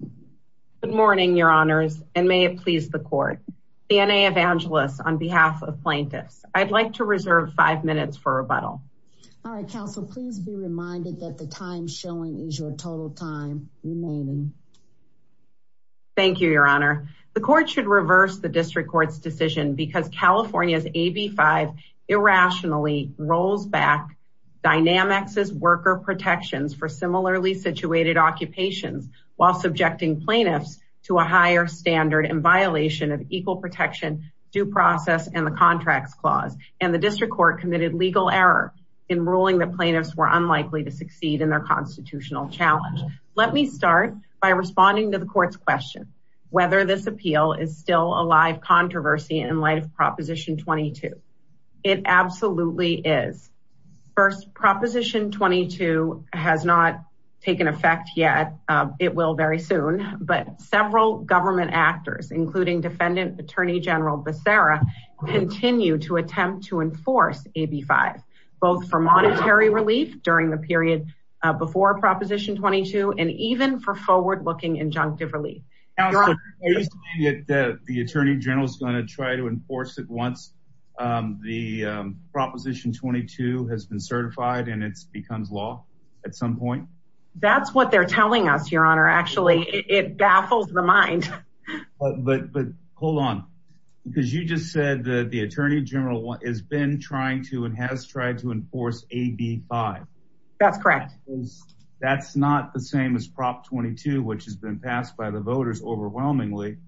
Good morning, Your Honors, and may it please the Court. Sania Evangelos, on behalf of plaintiffs, I'd like to reserve five minutes for rebuttal. All right, Counsel, please be reminded that the time showing is your total time remaining. Thank you, Your Honor. The Court should reverse the District Court's decision because California's AB 5 irrationally rolls back Dynamics' worker protections for similarly-situated occupations while subjecting plaintiffs to a higher standard in violation of Equal Protection, Due Process, and the Contracts Clause. And the District Court committed legal error in ruling that plaintiffs were unlikely to succeed in their constitutional challenge. Let me start by responding to the Court's question, whether this appeal is still a live controversy in light of Proposition 22. It absolutely is. First, Proposition 22 has not taken effect yet. It will very soon. But several government actors, including Defendant Attorney General Becerra, continue to attempt to enforce AB 5, both for monetary relief during the period before Proposition 22 and even for forward-looking injunctive relief. Counsel, are you saying that the Attorney General is going to try to enforce it once the Proposition 22 has been certified and it becomes law at some point? That's what they're telling us, Your Honor. Actually, it baffles the mind. But hold on, because you just said that the Attorney General has been trying to and has tried to enforce AB 5. That's correct. That's not the same as Prop 22, which has been passed by the voters overwhelmingly.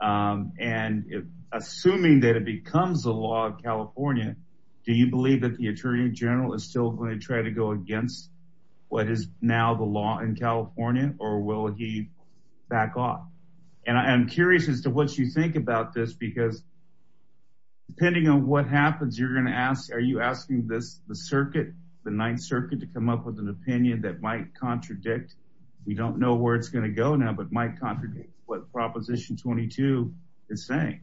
And assuming that it becomes the law in California, do you believe that the Attorney General is still going to try to go against what is now the law in California, or will he back off? And I'm curious as to what you think about this, because depending on what happens, you're with an opinion that might contradict, we don't know where it's going to go now, but might contradict what Proposition 22 is saying.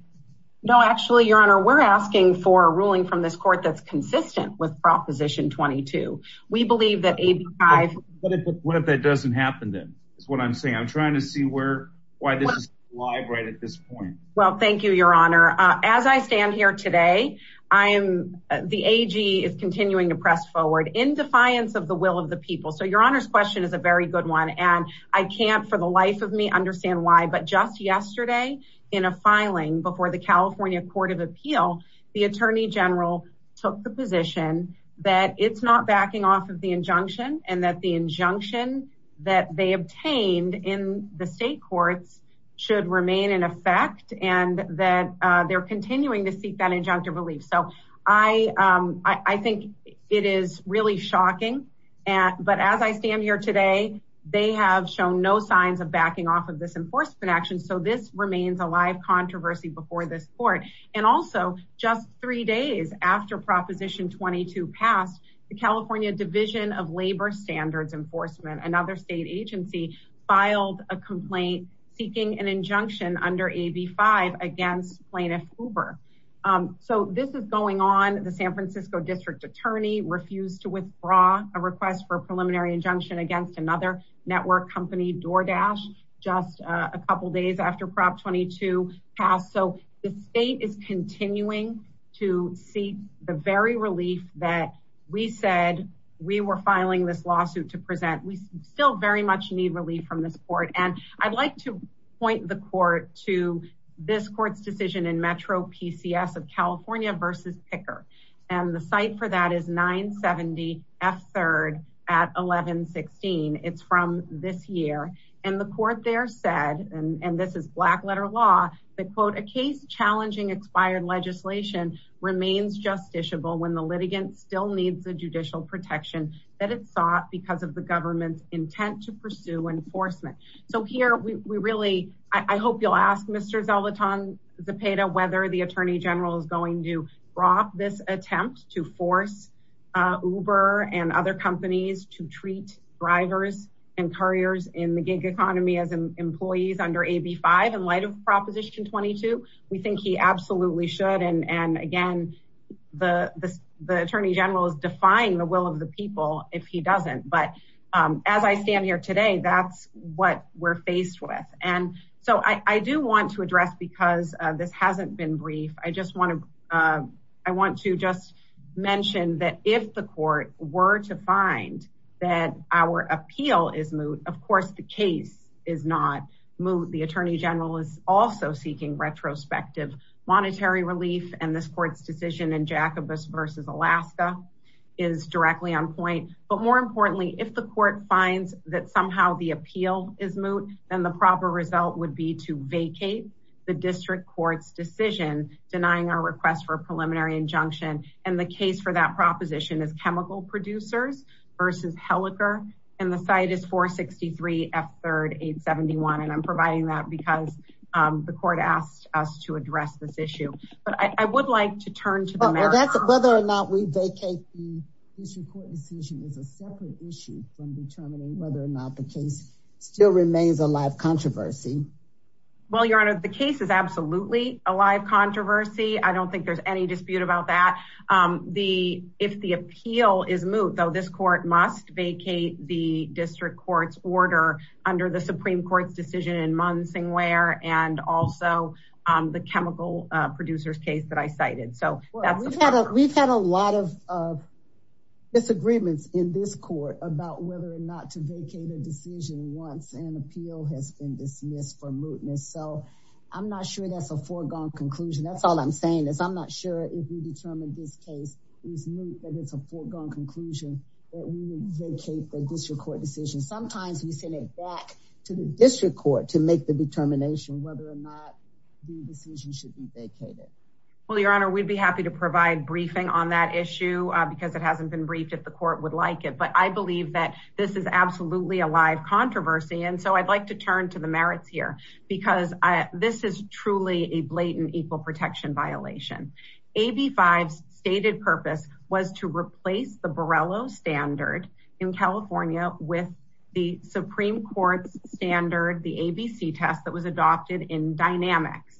No, actually, Your Honor, we're asking for a ruling from this court that's consistent with Proposition 22. We believe that AB 5... But what if that doesn't happen, then, is what I'm saying. I'm trying to see where, why this is alive right at this point. Well, thank you, Your Honor. As I stand here today, I am, the AG is continuing to press forward. In defiance of the will of the people. So Your Honor's question is a very good one, and I can't for the life of me understand why, but just yesterday in a filing before the California Court of Appeal, the Attorney General took the position that it's not backing off of the injunction, and that the injunction that they obtained in the state courts should remain in effect, and that they're continuing to seek that injunctive relief. So I think it is really shocking, but as I stand here today, they have shown no signs of backing off of this enforcement action, so this remains a live controversy before this court. And also, just three days after Proposition 22 passed, the California Division of Labor Standards Enforcement, another state agency, filed a complaint seeking an injunction under AB 5 against plaintiff Hoover. So this is going on, the San Francisco District Attorney refused to withdraw a request for a preliminary injunction against another network company, DoorDash, just a couple days after Prop 22 passed. So the state is continuing to seek the very relief that we said we were filing this lawsuit to present. We still very much need relief from this court, and I'd like to point the court to this court's decision in Metro PCS of California versus Picker. And the site for that is 970 F3rd at 1116. It's from this year. And the court there said, and this is black letter law, that quote, a case challenging expired legislation remains justiciable when the litigant still needs the judicial protection that it sought because of the government's intent to pursue enforcement. So here we really, I hope you'll ask Mr. Zolotan Zepeda whether the Attorney General is going to rock this attempt to force Uber and other companies to treat drivers and couriers in the gig economy as employees under AB 5 in light of Proposition 22. We think he absolutely should. And again, the Attorney General is defying the will of the people if he doesn't. But as I stand here today, that's what we're faced with. And so I do want to address, because this hasn't been brief, I just want to just mention that if the court were to find that our appeal is moot, of course, the case is not moot. The Attorney General is also seeking retrospective monetary relief, and this court's decision in Jacobus versus Alaska is directly on point. But more importantly, if the court finds that somehow the appeal is moot, then the proper result would be to vacate the district court's decision denying our request for a preliminary injunction. And the case for that proposition is Chemical Producers versus Helicor. And the site is 463 F3rd 871. And I'm providing that because the court asked us to address this issue. But I would like to turn to the matter of whether or not we vacate the district court decision is a separate issue from determining whether or not the case still remains a live controversy. Well, Your Honor, the case is absolutely a live controversy. I don't think there's any dispute about that. If the appeal is moot, though, this court must vacate the district court's order under the Supreme Court's decision in Munsingware and also the Chemical Producers case that I cited. So we've had a lot of disagreements in this court about whether or not to vacate a decision once an appeal has been dismissed for mootness. So I'm not sure that's a foregone conclusion. That's all I'm saying is I'm not sure if we determine this case is moot, but it's a foregone conclusion that we vacate the district court decision. Sometimes we send it back to the district court to make the determination whether or not the decision should be vacated. Well, Your Honor, we'd be happy to provide briefing on that issue because it hasn't been briefed if the court would like it. But I believe that this is absolutely a live controversy. And so I'd like to turn to the merits here, because this is truly a blatant equal protection violation. AB5's stated purpose was to replace the Borrello standard in California with the Supreme Court's standard, the ABC test that was adopted in Dynamics.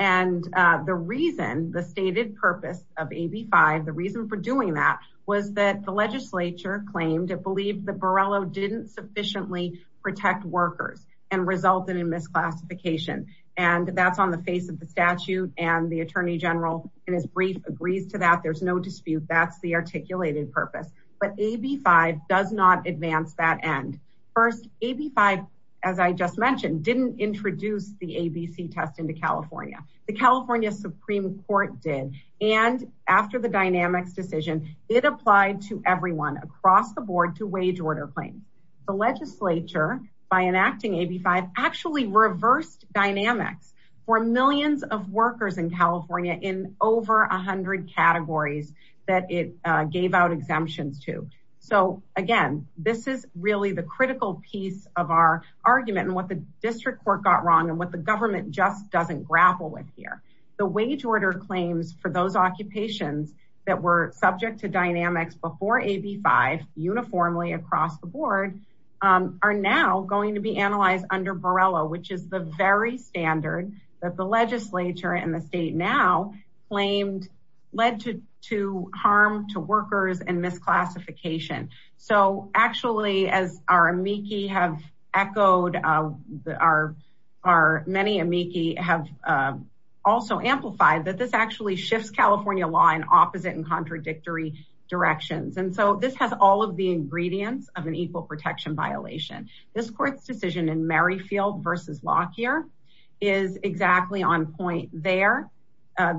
And the reason the stated purpose of AB5, the reason for doing that was that the legislature claimed it believed that Borrello didn't sufficiently protect workers and resulted in misclassification. And that's on the face of the statute. And the attorney general in his brief agrees to that. There's no dispute. That's the articulated purpose. But AB5 does not advance that end. First, AB5, as I just mentioned, didn't introduce the ABC test into California. The California Supreme Court did. And after the Dynamics decision, it applied to everyone across the board to wage order claims. The legislature, by enacting AB5, actually reversed Dynamics for millions of workers in California in over 100 categories that it gave out exemptions to. So, again, this is really the critical piece of our argument and what the district court got wrong and what the government just doesn't grapple with here. The wage order claims for those occupations that were subject to Dynamics before AB5 uniformly across the board are now going to be analyzed under Borrello, which is the very standard that the legislature and the state now claimed led to harm to workers and misclassification. So actually, as our amici have echoed, our many amici have also amplified that this actually shifts California law in opposite and contradictory directions. And so this has all of the ingredients of an equal protection violation. This court's decision in Merrifield versus Lockyer is exactly on point there.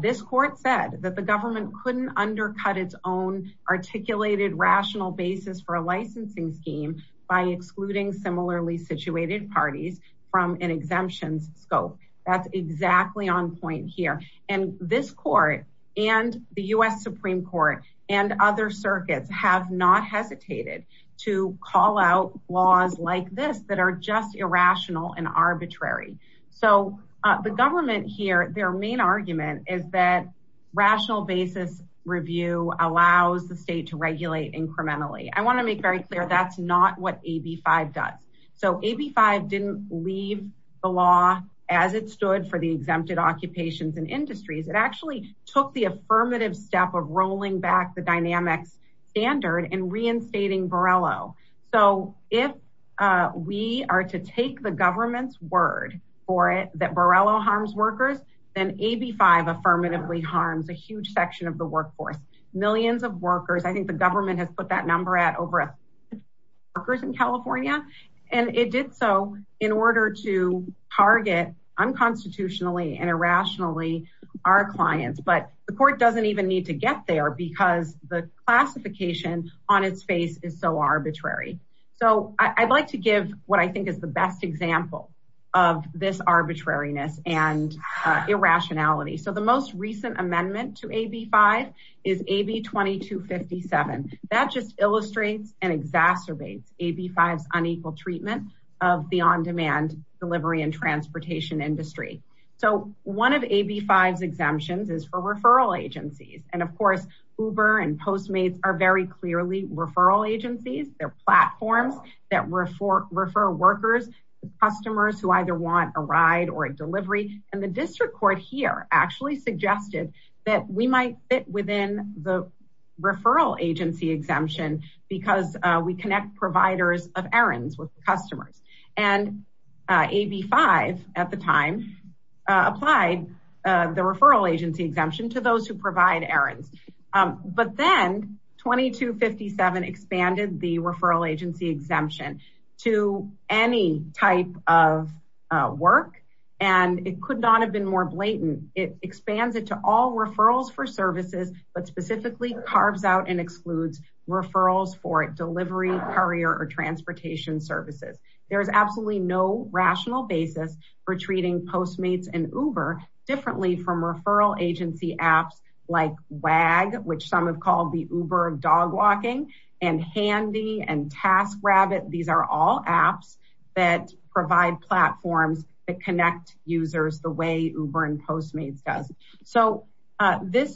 This court said that the government couldn't undercut its own articulated rational basis for a licensing scheme by excluding similarly situated parties from an exemptions scope. That's exactly on point here. And this court and the U.S. Supreme Court and other circuits have not hesitated to call out laws like this that are just irrational and arbitrary. So the government here, their main argument is that rational basis review allows the state to regulate incrementally. I want to make very clear that's not what AB5 does. So AB5 didn't leave the law as it stood for the exempted occupations and industries. It actually took the affirmative step of rolling back the dynamics standard and reinstating Borrello. So if we are to take the government's word for it, that Borrello harms workers, then AB5 affirmatively harms a huge section of the workforce. Millions of workers. I think the government has put that number at over a thousand workers in California, and it did so in order to target unconstitutionally and irrationally our clients. But the court doesn't even need to get there because the classification on its face is so arbitrary. So I'd like to give what I think is the best example of this arbitrariness and that just illustrates and exacerbates AB5's unequal treatment of the on-demand delivery and transportation industry. So one of AB5's exemptions is for referral agencies. And of course, Uber and Postmates are very clearly referral agencies. They're platforms that refer workers, customers who either want a ride or a delivery. And the district court here actually suggested that we might fit within the referral agency exemption because we connect providers of errands with customers. And AB5 at the time applied the referral agency exemption to those who provide errands. But then 2257 expanded the referral agency exemption to any type of work. And it could not have been more blatant. It expands it to all referrals for services, but specifically carves out and excludes referrals for delivery, courier, or transportation services. There is absolutely no rational basis for treating Postmates and Uber differently from referral agency apps like WAG, which some have called the Uber of dog walking, and Handy and TaskRabbit. These are all apps that provide platforms that connect users the way Uber and Postmates does. So there's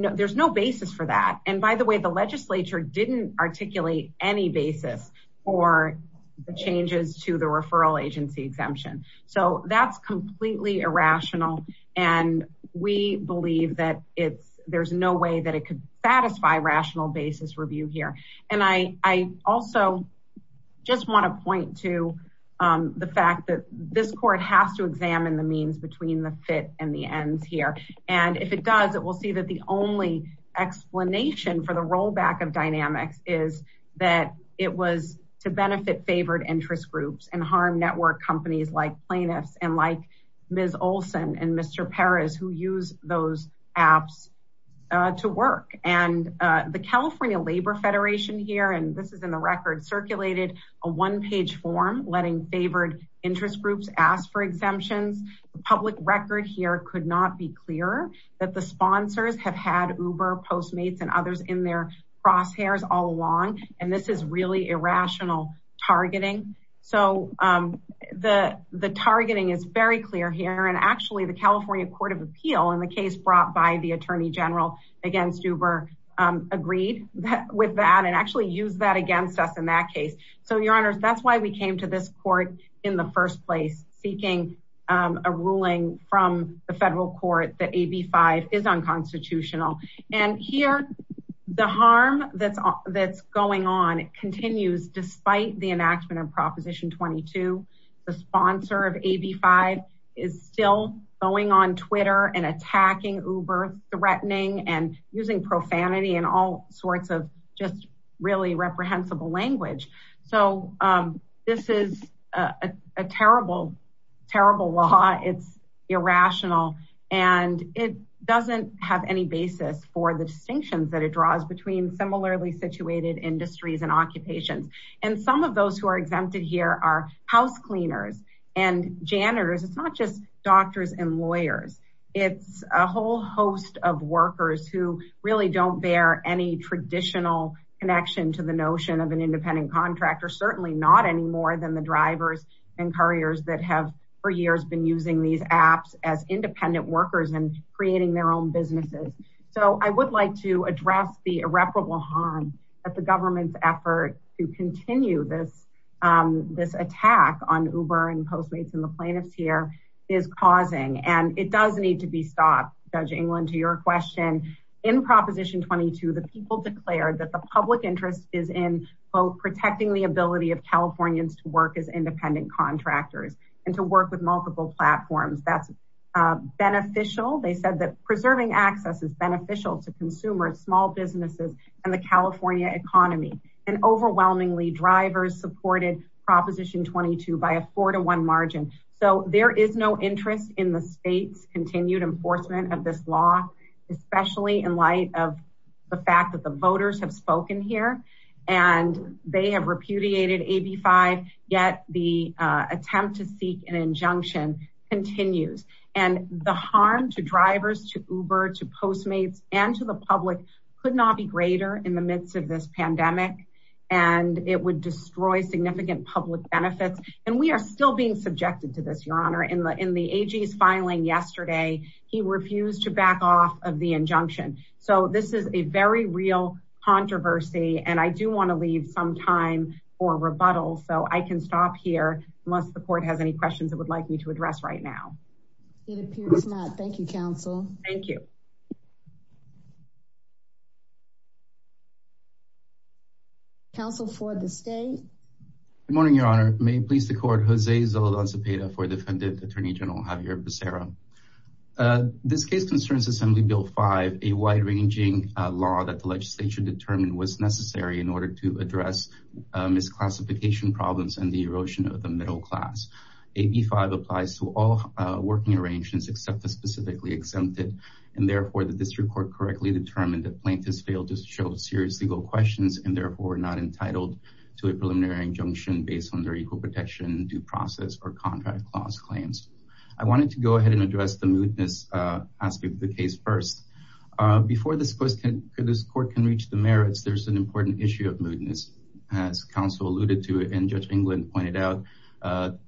no basis for that. And by the way, the legislature didn't articulate any basis for the changes to the referral agency exemption. So that's completely irrational. And we believe that there's no way that it could satisfy rational basis review here. And I also just want to point to the fact that this court has to examine the means between the fit and the ends here. And if it does, it will see that the only explanation for the rollback of Dynamics is that it was to benefit favored interest groups and harm network companies like Plaintiffs and like Ms. Olson and Mr. Perez, who use those apps to work. And the California Labor Federation here, and this is in the record, circulated a one page form letting favored interest groups ask for exemptions. The public record here could not be clearer that the sponsors have had Uber, Postmates and others in their crosshairs all along. And this is really irrational targeting. So the targeting is very clear here. And actually, the California Court of Appeal in the case brought by the attorney general against Uber agreed with that and actually used that against us in that case. So, Your Honor, that's why we came to this court in the first place, seeking a ruling from the federal court that AB5 is unconstitutional. And here, the harm that's going on continues despite the enactment of Proposition 22. The sponsor of AB5 is still going on Twitter and attacking Uber, threatening and using profanity and all sorts of just really reprehensible language. So this is a terrible, terrible law. It's irrational. And it doesn't have any basis for the distinctions that it draws between similarly situated industries and occupations. And some of those who are exempted here are house cleaners and janitors. It's not just doctors and lawyers. It's a whole host of workers who really don't bear any traditional connection to the notion of an independent contractor, certainly not any more than the drivers and couriers that have for years been using these apps as independent workers and creating their own businesses. So I would like to address the irreparable harm that the government's effort to continue this attack on Uber and Postmates and the plaintiffs here is causing. And it does need to be stopped. Judge England, to your question, in Proposition 22, the people declared that the public interest is in both protecting the ability of Californians to work as independent contractors and to work with multiple platforms. That's beneficial. They said that preserving access is beneficial to consumers, small businesses and the California economy. And overwhelmingly, drivers supported Proposition 22 by a four to one margin. So there is no interest in the state's continued enforcement of this law, especially in light of the fact that the voters have spoken here and they have repudiated AB5, yet the attempt to seek an injunction continues. And the harm to drivers, to Uber, to Postmates and to the public could not be greater in the midst of this pandemic. And it would destroy significant public benefits. And we are still being subjected to this, Your Honor. In the AG's filing yesterday, he refused to back off of the injunction. So this is a very real controversy. And I do want to leave some time for rebuttal. So I can stop here unless the court has any questions it would like me to address right now. It appears not. Thank you, counsel. Thank you. Counsel for the state. Good morning, Your Honor. May it please the court, Jose Zoledon Cepeda for Defendant Attorney General Javier Becerra. This case concerns Assembly Bill 5, a wide ranging law that the legislature determined was necessary in order to address misclassification problems and the erosion of the middle class. AB 5 applies to all working arrangements except the specifically exempted. And therefore, the district court correctly determined that plaintiffs failed to show serious legal questions and therefore not entitled to a preliminary injunction based on their equal protection, due process or contract clause claims. I wanted to go ahead and address the mootness aspect of the case first. Before this court can reach the merits, there's an important issue of mootness, as counsel alluded to and Judge England pointed out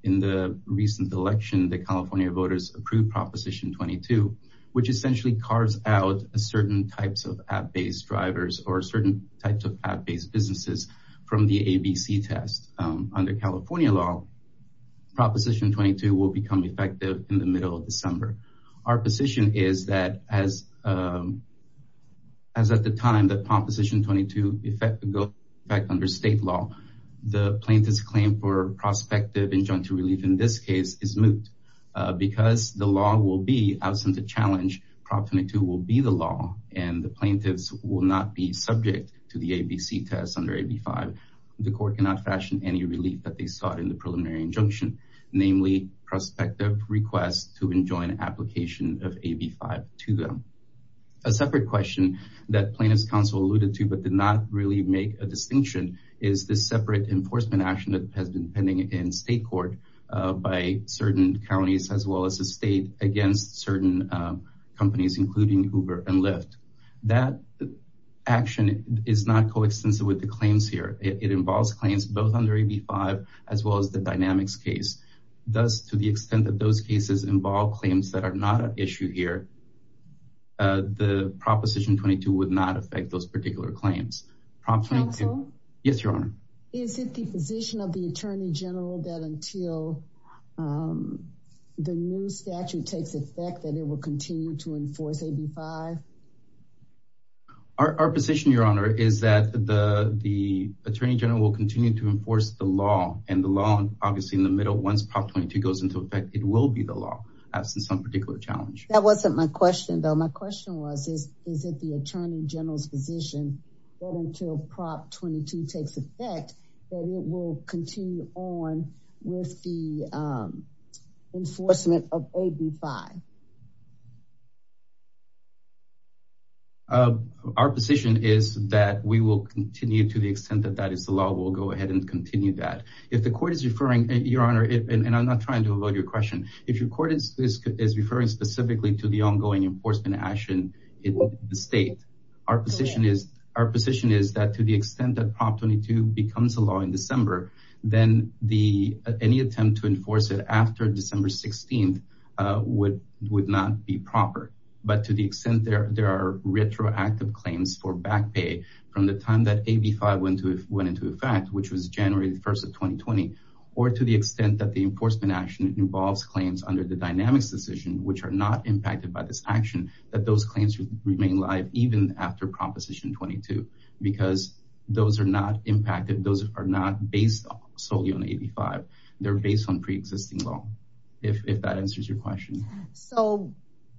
in the recent election, the California voters approved Proposition 22, which essentially carves out certain types of ad-based drivers or certain types of ad-based businesses from the ABC test. Under California law, Proposition 22 will become effective in the middle of December. Our position is that as at the time that Proposition 22 goes back under state law, the plaintiff's claim for prospective injunctive relief in this case is moot because the law will be, absent a challenge, Proposition 22 will be the law and the plaintiffs will not be subject to the ABC test under AB 5. The court cannot fashion any relief that they sought in the preliminary injunction, namely prospective requests to enjoin application of AB 5 to them. A separate question that plaintiff's counsel alluded to, but did not really make a separate enforcement action that has been pending in state court by certain counties, as well as the state, against certain companies, including Uber and Lyft. That action is not coextensive with the claims here. It involves claims both under AB 5, as well as the Dynamics case. Thus, to the extent that those cases involve claims that are not an issue here, the Proposition 22 would not affect those particular claims. Counsel? Yes, Your Honor. Is it the position of the Attorney General that until the new statute takes effect, that it will continue to enforce AB 5? Our position, Your Honor, is that the Attorney General will continue to enforce the law and the law, obviously, in the middle. Once Prop 22 goes into effect, it will be the law, absent some particular challenge. That wasn't my question, though. My question was, is it the Attorney General's position that until Prop 22 takes effect, that it will continue on with the enforcement of AB 5? Our position is that we will continue to the extent that that is the law. We'll go ahead and continue that. If the court is referring, Your Honor, and I'm not trying to avoid your question, if the court is referring to the enforcement action in the state, our position is that to the extent that Prop 22 becomes a law in December, then any attempt to enforce it after December 16th would not be proper. But to the extent there are retroactive claims for back pay from the time that AB 5 went into effect, which was January 1st of 2020, or to the extent that the enforcement action involves claims under the dynamics decision, which are not impacted by this action, that those claims remain live even after Proposition 22, because those are not impacted. Those are not based solely on AB 5. They're based on pre-existing law, if that answers your question. So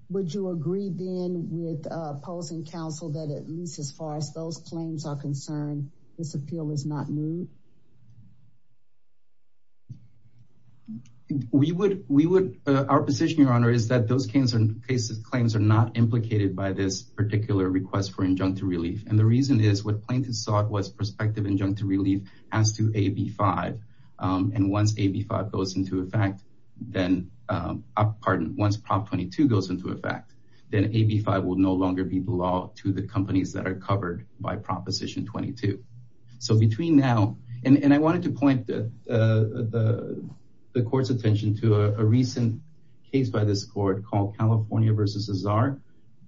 would you agree, then, with opposing counsel that at least as far as those claims are concerned, this appeal is not new? Our position, Your Honor, is that those cases claims are not implicated by this particular request for injunctive relief. And the reason is what plaintiffs sought was prospective injunctive relief as to AB 5. And once AB 5 goes into effect, then, pardon, once Prop 22 goes into effect, then AB 5 will no longer be the law to the companies that are covered by Proposition 22. So between now, and I wanted to point the court's attention to a recent case by this court called California v. Cesar,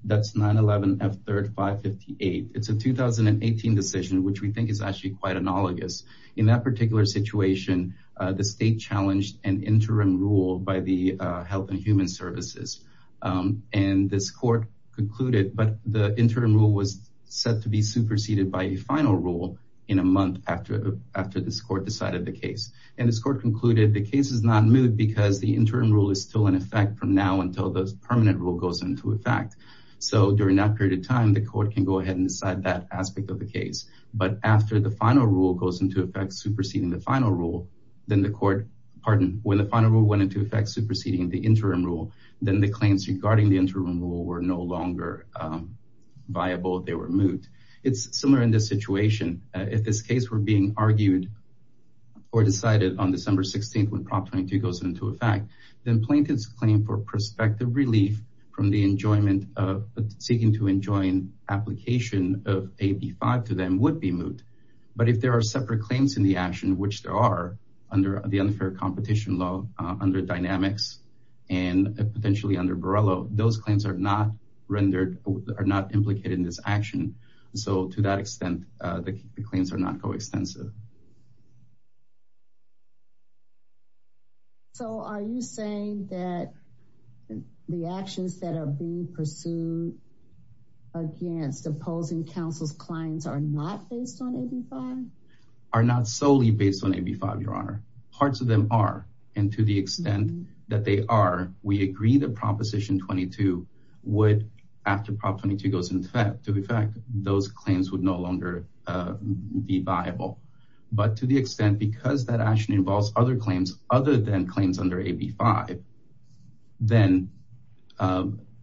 that's 9-11-F-3-558. It's a 2018 decision, which we think is actually quite analogous. In that particular situation, the state challenged an interim rule by the Health and Human Services, and this court concluded, but the interim rule was set to be superseded by a final rule in a month after this court decided the case. And this court concluded the case is not moot because the interim rule is still in effect from now until the permanent rule goes into effect. So during that period of time, the court can go ahead and decide that aspect of the case. But after the final rule goes into effect, superseding the final rule, then the court, pardon, when the final rule went into effect, superseding the interim rule, then the claims regarding the interim rule were no longer viable. They were moot. It's similar in this situation. If this case were being argued or decided on December 16th, when Prop 22 goes into effect, then plaintiff's claim for prospective relief from the enjoyment of seeking to enjoin application of AB 5 to them would be moot. But if there are separate claims in the action, which there are under the unfair competition law, under dynamics and potentially under Borrello, those claims are not implicated in this action. So to that extent, the claims are not coextensive. So are you saying that the actions that are being pursued against opposing counsel's clients are not based on AB 5? Are not solely based on AB 5, Your Honor. Parts of them are. And to the extent that they are, we agree that Proposition 22 would, after Prop 22 goes into effect, those claims would no longer be viable. But to the extent, because that action involves other claims other than claims under AB 5, then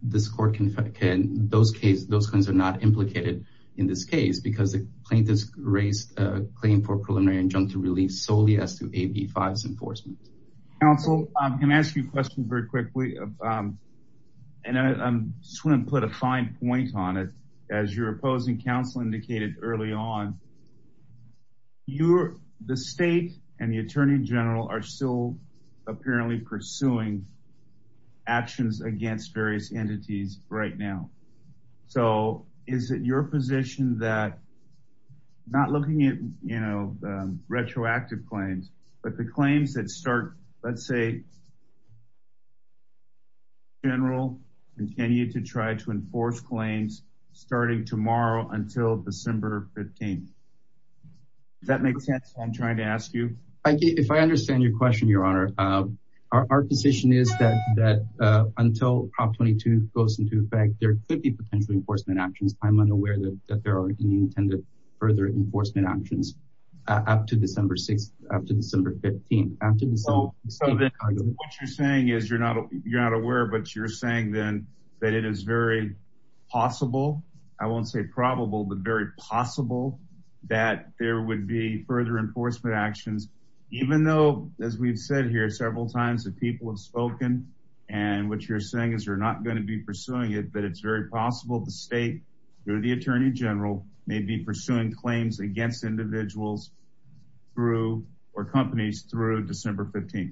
this court can, those claims are not implicated in this case because the plaintiff's raised a claim for preliminary injunctive relief solely as to AB 5's enforcement. Counsel, I'm going to ask you a question very quickly, and I just want to put a little bit of context on it, as your opposing counsel indicated early on, you're, the state and the attorney general are still apparently pursuing actions against various entities right now. So is it your position that not looking at, you know, retroactive claims, but the starting tomorrow until December 15th? Does that make sense? I'm trying to ask you. I get, if I understand your question, Your Honor, our position is that, that until Prop 22 goes into effect, there could be potential enforcement actions. I'm unaware that there are any intended further enforcement actions up to December 6th, up to December 15th. So then what you're saying is you're not, you're not aware, but you're saying then that it is very possible, I won't say probable, but very possible that there would be further enforcement actions, even though, as we've said here several times that people have spoken and what you're saying is you're not going to be pursuing it, but it's very possible the state or the attorney general may be pursuing claims against individuals through, or companies through December 15th.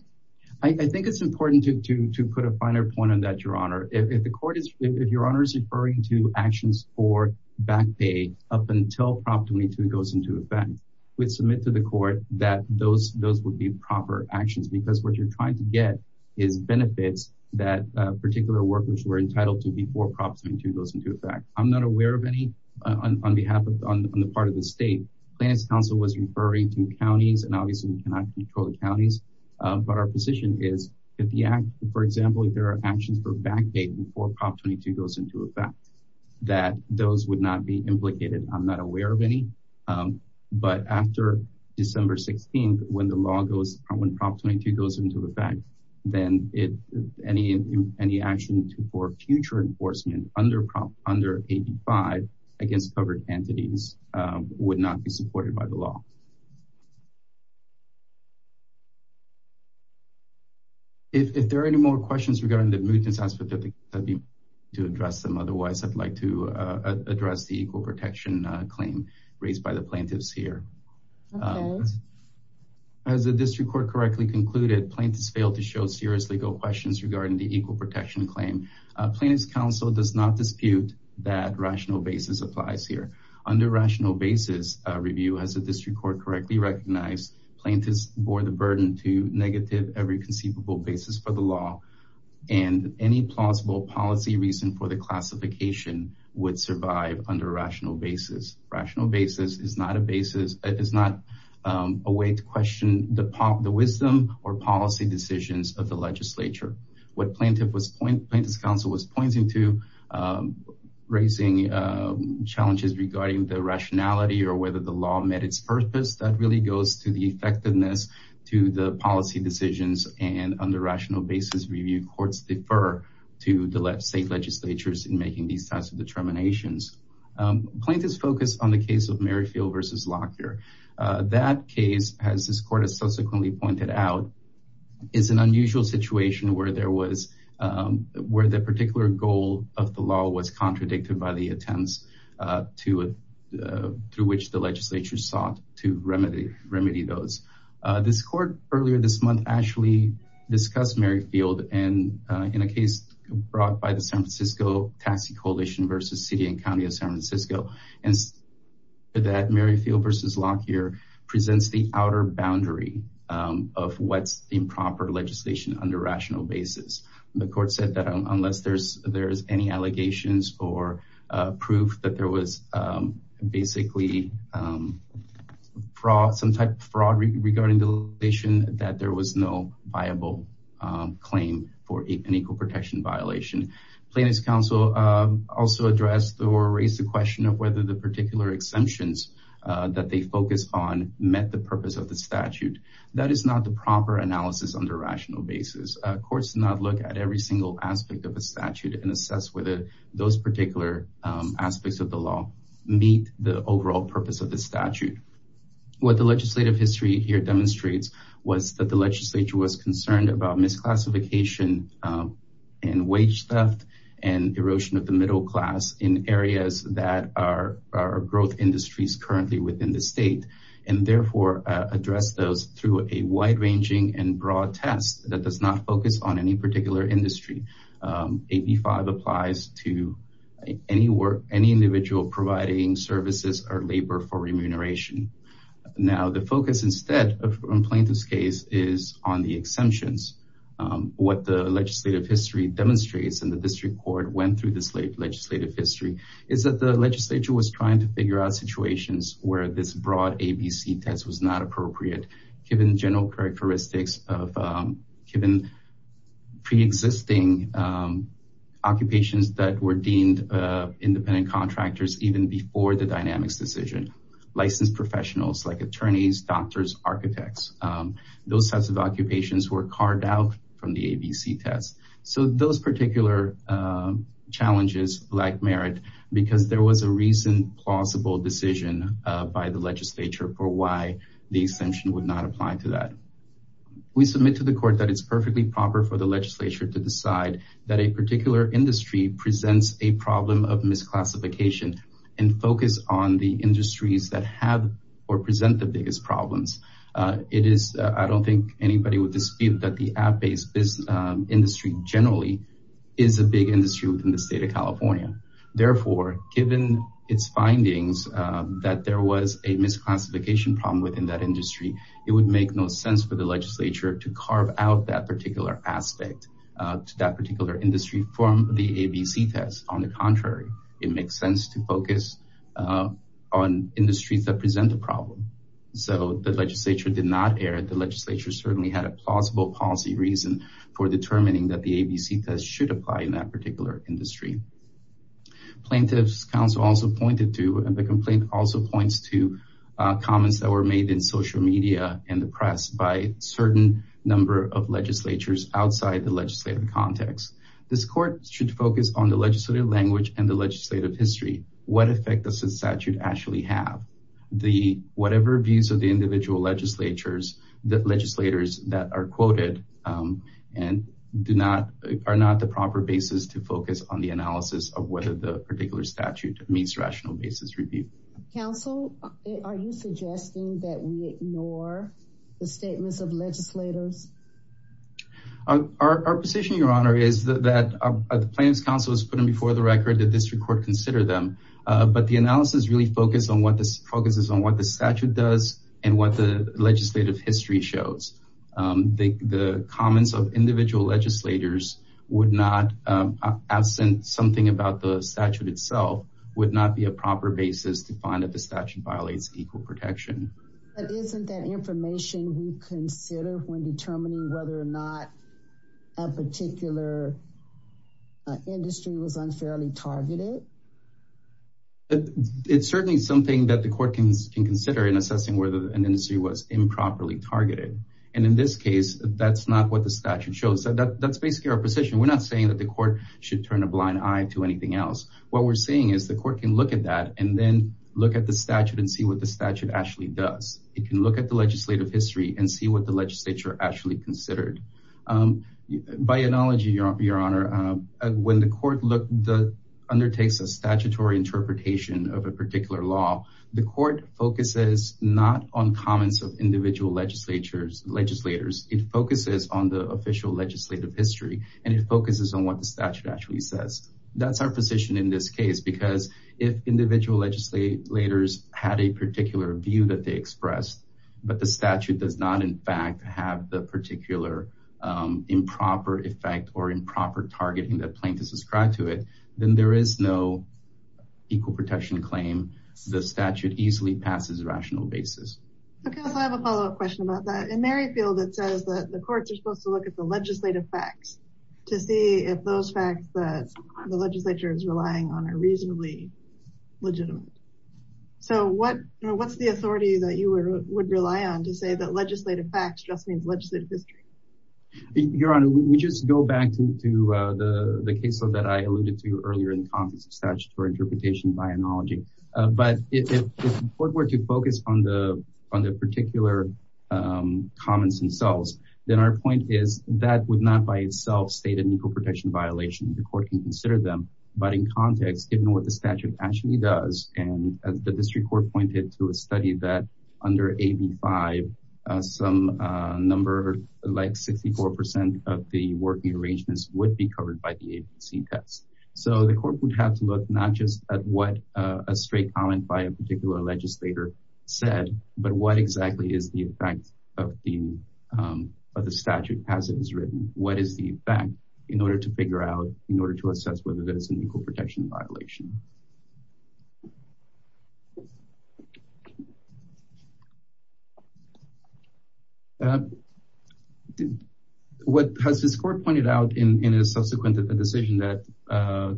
I think it's important to, to, to put a finer point on that, Your Honor. If, if the court is, if Your Honor is referring to actions for back pay up until Prop 22 goes into effect, we'd submit to the court that those, those would be proper actions because what you're trying to get is benefits that particular workers were entitled to before Prop 22 goes into effect. I'm not aware of any on behalf of, on the part of the state. Planning Council was referring to counties and obviously we cannot control the counties, but our position is if the act, for example, if there are actions for back pay before Prop 22 goes into effect, that those would not be implicated. I'm not aware of any, but after December 16th, when the law goes, when Prop 22 goes into effect, then it, any, any action for future enforcement under Prop, under 85 against covered entities would not be supported by the law. If, if there are any more questions regarding the mutants aspect of the case, I'd be happy to address them. Otherwise I'd like to address the equal protection claim raised by the plaintiffs here, as the district court correctly concluded, plaintiffs failed to show serious legal questions regarding the equal protection claim. Plaintiffs' counsel does not dispute that rational basis applies here. Under rational basis review, as the district court correctly concluded, correctly recognized, plaintiffs bore the burden to negative every conceivable basis for the law and any plausible policy reason for the classification would survive under rational basis. Rational basis is not a basis. It is not a way to question the pop, the wisdom or policy decisions of the legislature. What plaintiff was point, plaintiffs' counsel was pointing to raising challenges regarding the rationality or whether the law met its purpose. That really goes to the effectiveness to the policy decisions and under rational basis review courts defer to the state legislatures in making these types of determinations. Plaintiffs focused on the case of Merrifield versus Lockyer. That case, as this court has subsequently pointed out, is an unusual situation where there was, where the particular goal of the law was contradicted by the attempts to, through which the legislature sought to remedy those. This court earlier this month actually discussed Merrifield and in a case brought by the San Francisco Taxi Coalition versus City and County of San Francisco, and that Merrifield versus Lockyer presents the outer boundary of what's improper legislation under rational basis. The court said that unless there's, there's any allegations or proof that there was basically fraud, some type of fraud regarding the legislation that there was no viable claim for an equal protection violation. Plaintiffs' counsel also addressed or raised the question of whether the particular exemptions that they focus on met the purpose of the statute. That is not the proper analysis under rational basis. Courts do not look at every single aspect of a statute and assess whether those particular aspects of the law meet the overall purpose of the statute. What the legislative history here demonstrates was that the legislature was concerned about misclassification and wage theft and erosion of the middle class in areas that are growth industries currently within the state. And therefore address those through a wide ranging and broad test that does not focus on any particular industry. AB5 applies to any work, any individual providing services or labor for remuneration. Now, the focus instead of a plaintiff's case is on the exemptions. What the legislative history demonstrates and the district court went through this legislative history is that the legislature was trying to figure out situations where this broad ABC test was not appropriate given the general characteristics of given pre-existing occupations that were deemed independent contractors even before the dynamics decision. Licensed professionals like attorneys, doctors, architects, those types of occupations were carved out from the ABC test. So those particular challenges lack merit because there was a reason plausible decision by the legislature for why the exemption would not apply to that. We submit to the court that it's perfectly proper for the legislature to decide that a particular industry presents a problem of misclassification and focus on the industries that have or present the biggest problems. It is I don't think anybody would dispute that the app based business industry generally is a big industry within the state of California. Therefore, given its findings that there was a misclassification problem within that industry, it would make no sense for the legislature to carve out that particular aspect to that particular industry from the ABC test. On the contrary, it makes sense to focus on industries that present the problem. So the legislature did not err. The legislature certainly had a plausible policy reason for determining that the ABC test should apply in that particular industry. Plaintiff's counsel also pointed to and the complaint also points to comments that were made in social media and the press by certain number of legislatures outside the legislative context. This court should focus on the legislative language and the legislative history. What effect does the statute actually have? The whatever views of the individual legislatures, the legislators that are quoted and do not are not the proper basis to focus on the analysis of whether the particular statute meets rational basis review. Counsel, are you suggesting that we ignore the statements of legislators? Our position, Your Honor, is that the plaintiff's counsel is putting before the record that this record consider them. But the analysis really focused on what this focuses on, what the statute does and what the legislative history shows. The comments of individual legislators would not, absent something about the statute itself, would not be a proper basis to find that the statute violates equal protection. But isn't that information we consider when determining whether or not a particular industry was unfairly targeted? It's certainly something that the court can consider in assessing whether an industry was improperly targeted. And in this case, that's not what the statute shows. That's basically our position. We're not saying that the court should turn a blind eye to anything else. What we're saying is the court can look at that and then look at the statute and see what the statute actually does. It can look at the legislative history and see what the legislature actually considered. By analogy, Your Honor, when the court undertakes a statutory interpretation of a It focuses on the official legislative history and it focuses on what the statute actually says. That's our position in this case, because if individual legislators had a particular view that they expressed, but the statute does not, in fact, have the particular improper effect or improper targeting that plaintiffs ascribe to it, then there is no equal protection claim. The statute easily passes a rational basis. OK, I have a follow up question about that. In Merrifield, it says that the courts are supposed to look at the legislative facts to see if those facts that the legislature is relying on are reasonably legitimate. So what what's the authority that you would rely on to say that legislative facts just means legislative history? Your Honor, we just go back to the case that I alluded to earlier in the statute for on the particular comments themselves. Then our point is that would not by itself state an equal protection violation. The court can consider them. But in context, given what the statute actually does and as the district court pointed to a study that under AB 5, some number like 64 percent of the working arrangements would be covered by the agency test. So the court would have to look not just at what a straight comment by a particular legislator said, but what exactly is the effect of the of the statute as it is written? What is the effect in order to figure out in order to assess whether there's an equal protection violation? What has this court pointed out in a subsequent decision that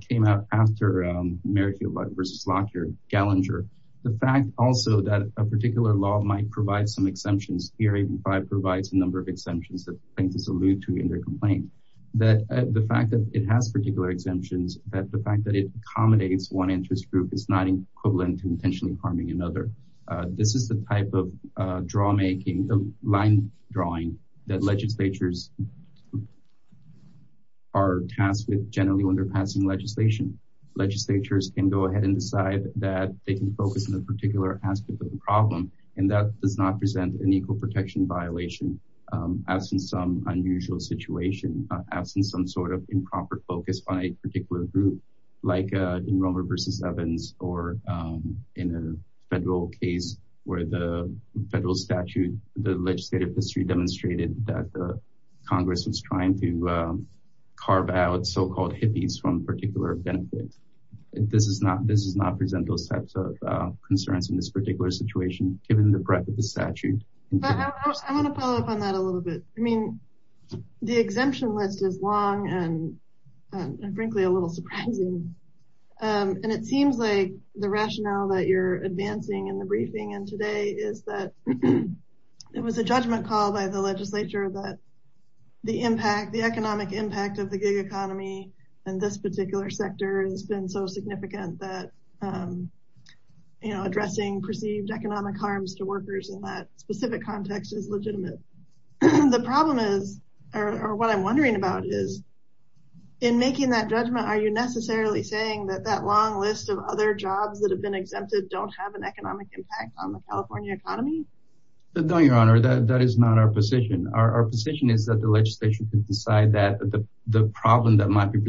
came out after Merrifield versus Lockyer, Gallinger, the fact also that a particular law might provide some exemptions. Here AB 5 provides a number of exemptions that plaintiffs allude to in their complaint, that the fact that it has particular exemptions, that the fact that it accommodates one interest group is not equivalent to intentionally harming another. This is the type of draw making, line drawing that legislatures are tasked with generally when they're passing legislation. Legislatures can go ahead and decide that they can focus on a particular aspect of the problem. And that does not present an equal protection violation as in some unusual situation, as in some sort of improper focus on a particular group like in Romer versus Evans or in a federal case where the federal statute, the legislative history demonstrated that Congress was trying to carve out so-called hippies from particular benefits. This does not present those types of concerns in this particular situation, given the breadth of the statute. I want to follow up on that a little bit. I mean, the exemption list is long and frankly, a little surprising. And it seems like the rationale that you're advancing in the briefing and today is that it was a judgment called by the legislature that the impact, the economic impact of the other sector has been so significant that, you know, addressing perceived economic harms to workers in that specific context is legitimate. The problem is, or what I'm wondering about is, in making that judgment, are you necessarily saying that that long list of other jobs that have been exempted don't have an economic impact on the California economy? No, Your Honor, that is not our position. Our position is that the legislation could decide that the problem that might be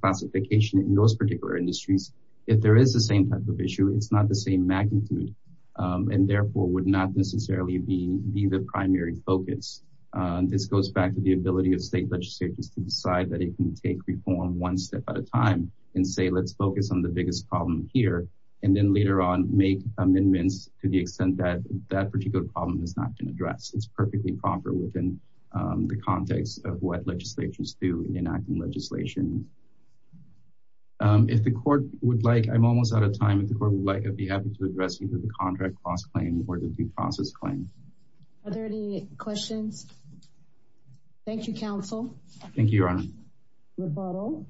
classification in those particular industries, if there is the same type of issue, it's not the same magnitude and therefore would not necessarily be the primary focus. This goes back to the ability of state legislatures to decide that it can take reform one step at a time and say, let's focus on the biggest problem here and then later on make amendments to the extent that that particular problem is not going to address. It's perfectly proper within the context of what legislatures do in enacting legislation. If the court would like, I'm almost out of time, if the court would like, I'd be happy to address either the contract cost claim or the due process claim. Are there any questions? Thank you, counsel. Thank you, Your Honor. Rebuttal.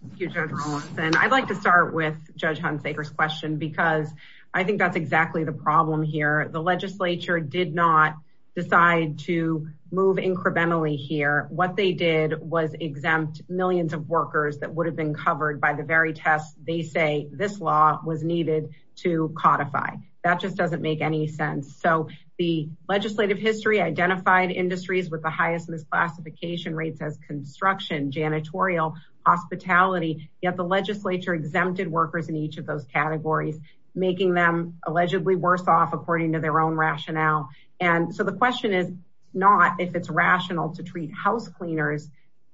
Thank you, Judge Rolison. I'd like to start with Judge Hunsaker's question because I think that's exactly the problem here. The legislature did not decide to move incrementally here. What they did was exempt millions of workers that would have been covered by the very test. They say this law was needed to codify. That just doesn't make any sense. So the legislative history identified industries with the highest misclassification rates as construction, janitorial, hospitality. Yet the legislature exempted workers in each of those categories, making them allegedly worse off according to their own rationale. And so the question is not if it's rational to treat house cleaners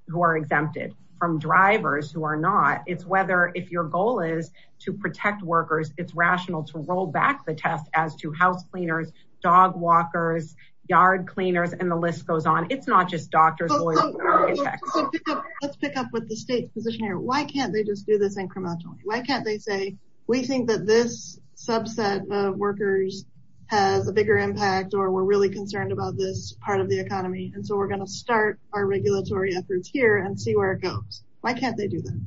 who are exempted from drivers who are not. It's whether if your goal is to protect workers, it's rational to roll back the test as to house cleaners, dog walkers, yard cleaners, and the list goes on. It's not just doctors. Let's pick up with the state's position here. Why can't they just do this incrementally? Why can't they say we think that this subset of workers has a bigger impact or we're really concerned about this part of the economy? And so we're going to start our regulatory efforts here and see where it goes. Why can't they do that?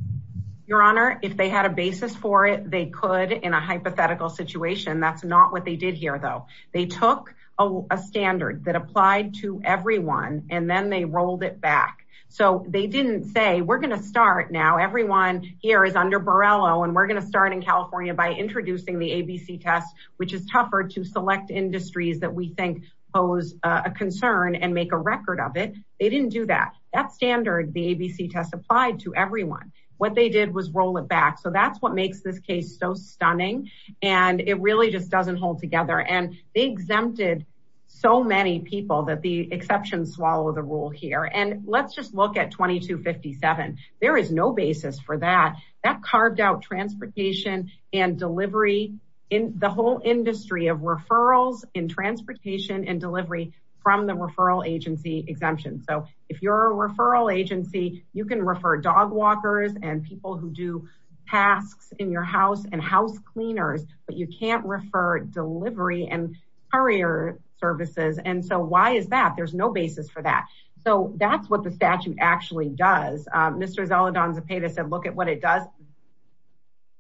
Your Honor, if they had a basis for it, they could in a hypothetical situation. That's not what they did here, though. They took a standard that applied to everyone and then they rolled it back. So they didn't say we're going to start now. Everyone here is under Borrello and we're going to start in California by introducing the ABC test, which is tougher to select industries that we think pose a concern and make a record of it. They didn't do that. That standard, the ABC test applied to everyone. What they did was roll it back. So that's what makes this case so stunning. And it really just doesn't hold together. And they exempted so many people that the exceptions swallow the rule here. And let's just look at 2257. There is no basis for that. That carved out transportation and delivery in the whole industry of referrals in transportation and delivery from the referral agency exemption. So if you're a referral agency, you can refer dog walkers and people who do tasks in your house and house cleaners. But you can't refer delivery and courier services. And so why is that? There's no basis for that. So that's what the statute actually does. Mr. Zoledon Zepeda said, look at what it does.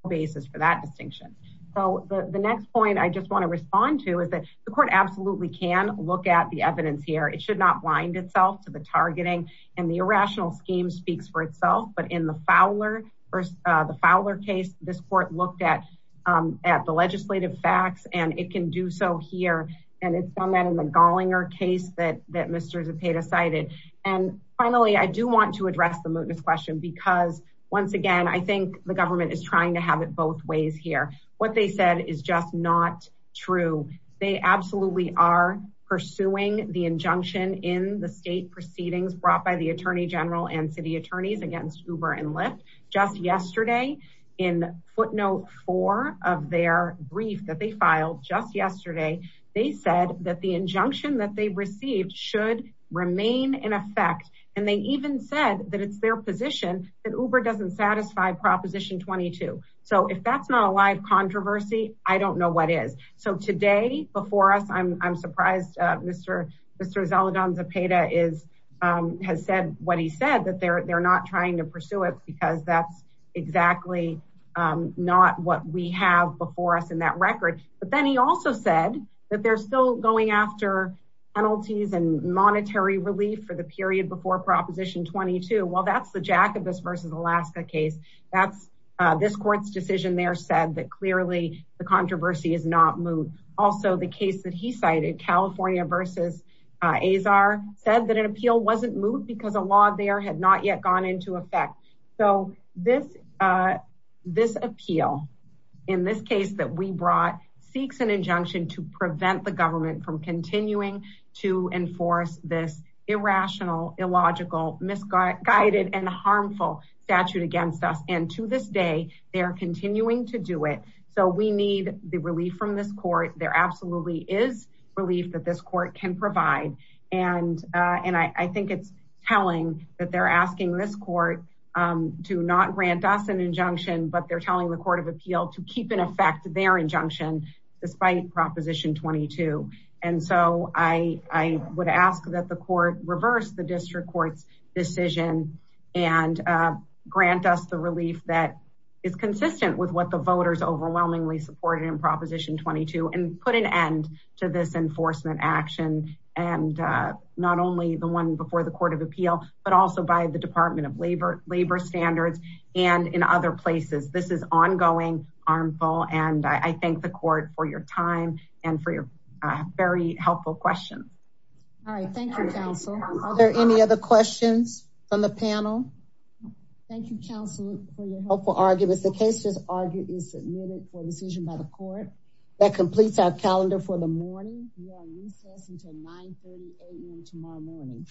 Basis for that distinction. So the next point I just want to respond to is that the court absolutely can look at the evidence here. It should not blind itself to the targeting and the irrational scheme speaks for itself. But in the Fowler or the Fowler case, this court looked at at the legislative facts and it can do so here. And it's done that in the Gallinger case that Mr. Zepeda cited. And finally, I do want to address the mootness question because once again, I think the government is trying to have it both ways here. What they said is just not true. They absolutely are pursuing the injunction in the state proceedings brought by the attorney general and city attorneys against Uber and Lyft just yesterday in footnote four of their brief that they filed just yesterday. They said that the injunction that they received should remain in effect. And they even said that it's their position that Uber doesn't satisfy proposition twenty two. So if that's not a live controversy, I don't know what is. So today before us, I'm surprised Mr. Mr. Zoledon Zepeda is has said what he said, that they're not trying to pursue it because that's exactly not what we have before us in that record. But then he also said that they're still going after penalties and monetary relief for the period before proposition twenty two. Well, that's the Jacobus versus Alaska case. That's this court's decision. They are said that clearly the controversy is not moot. Also, the case that he cited, California versus Azar, said that an appeal wasn't moot because a law there had not yet gone into effect. So this this appeal in this case that we brought seeks an injunction to prevent the government from continuing to enforce this irrational, illogical, misguided and harmful statute against us. And to this day, they are continuing to do it. So we need the relief from this court. There absolutely is relief that this court can provide. And and I think it's telling that they're asking this court to not grant us an injunction, but they're telling the court of appeal to keep in effect their injunction despite proposition twenty two. And so I would ask that the court reverse the district court's decision and grant us the relief that is consistent with what the voters overwhelmingly supported in enforcement action and not only the one before the court of appeal, but also by the Department of Labor, labor standards and in other places. This is ongoing, harmful. And I thank the court for your time and for your very helpful questions. All right. Thank you, counsel. Are there any other questions from the panel? Thank you, counsel, for your helpful arguments. The case is argued is a decision by the court that completes our calendar for the morning. We are recessed until 930 a.m. tomorrow morning.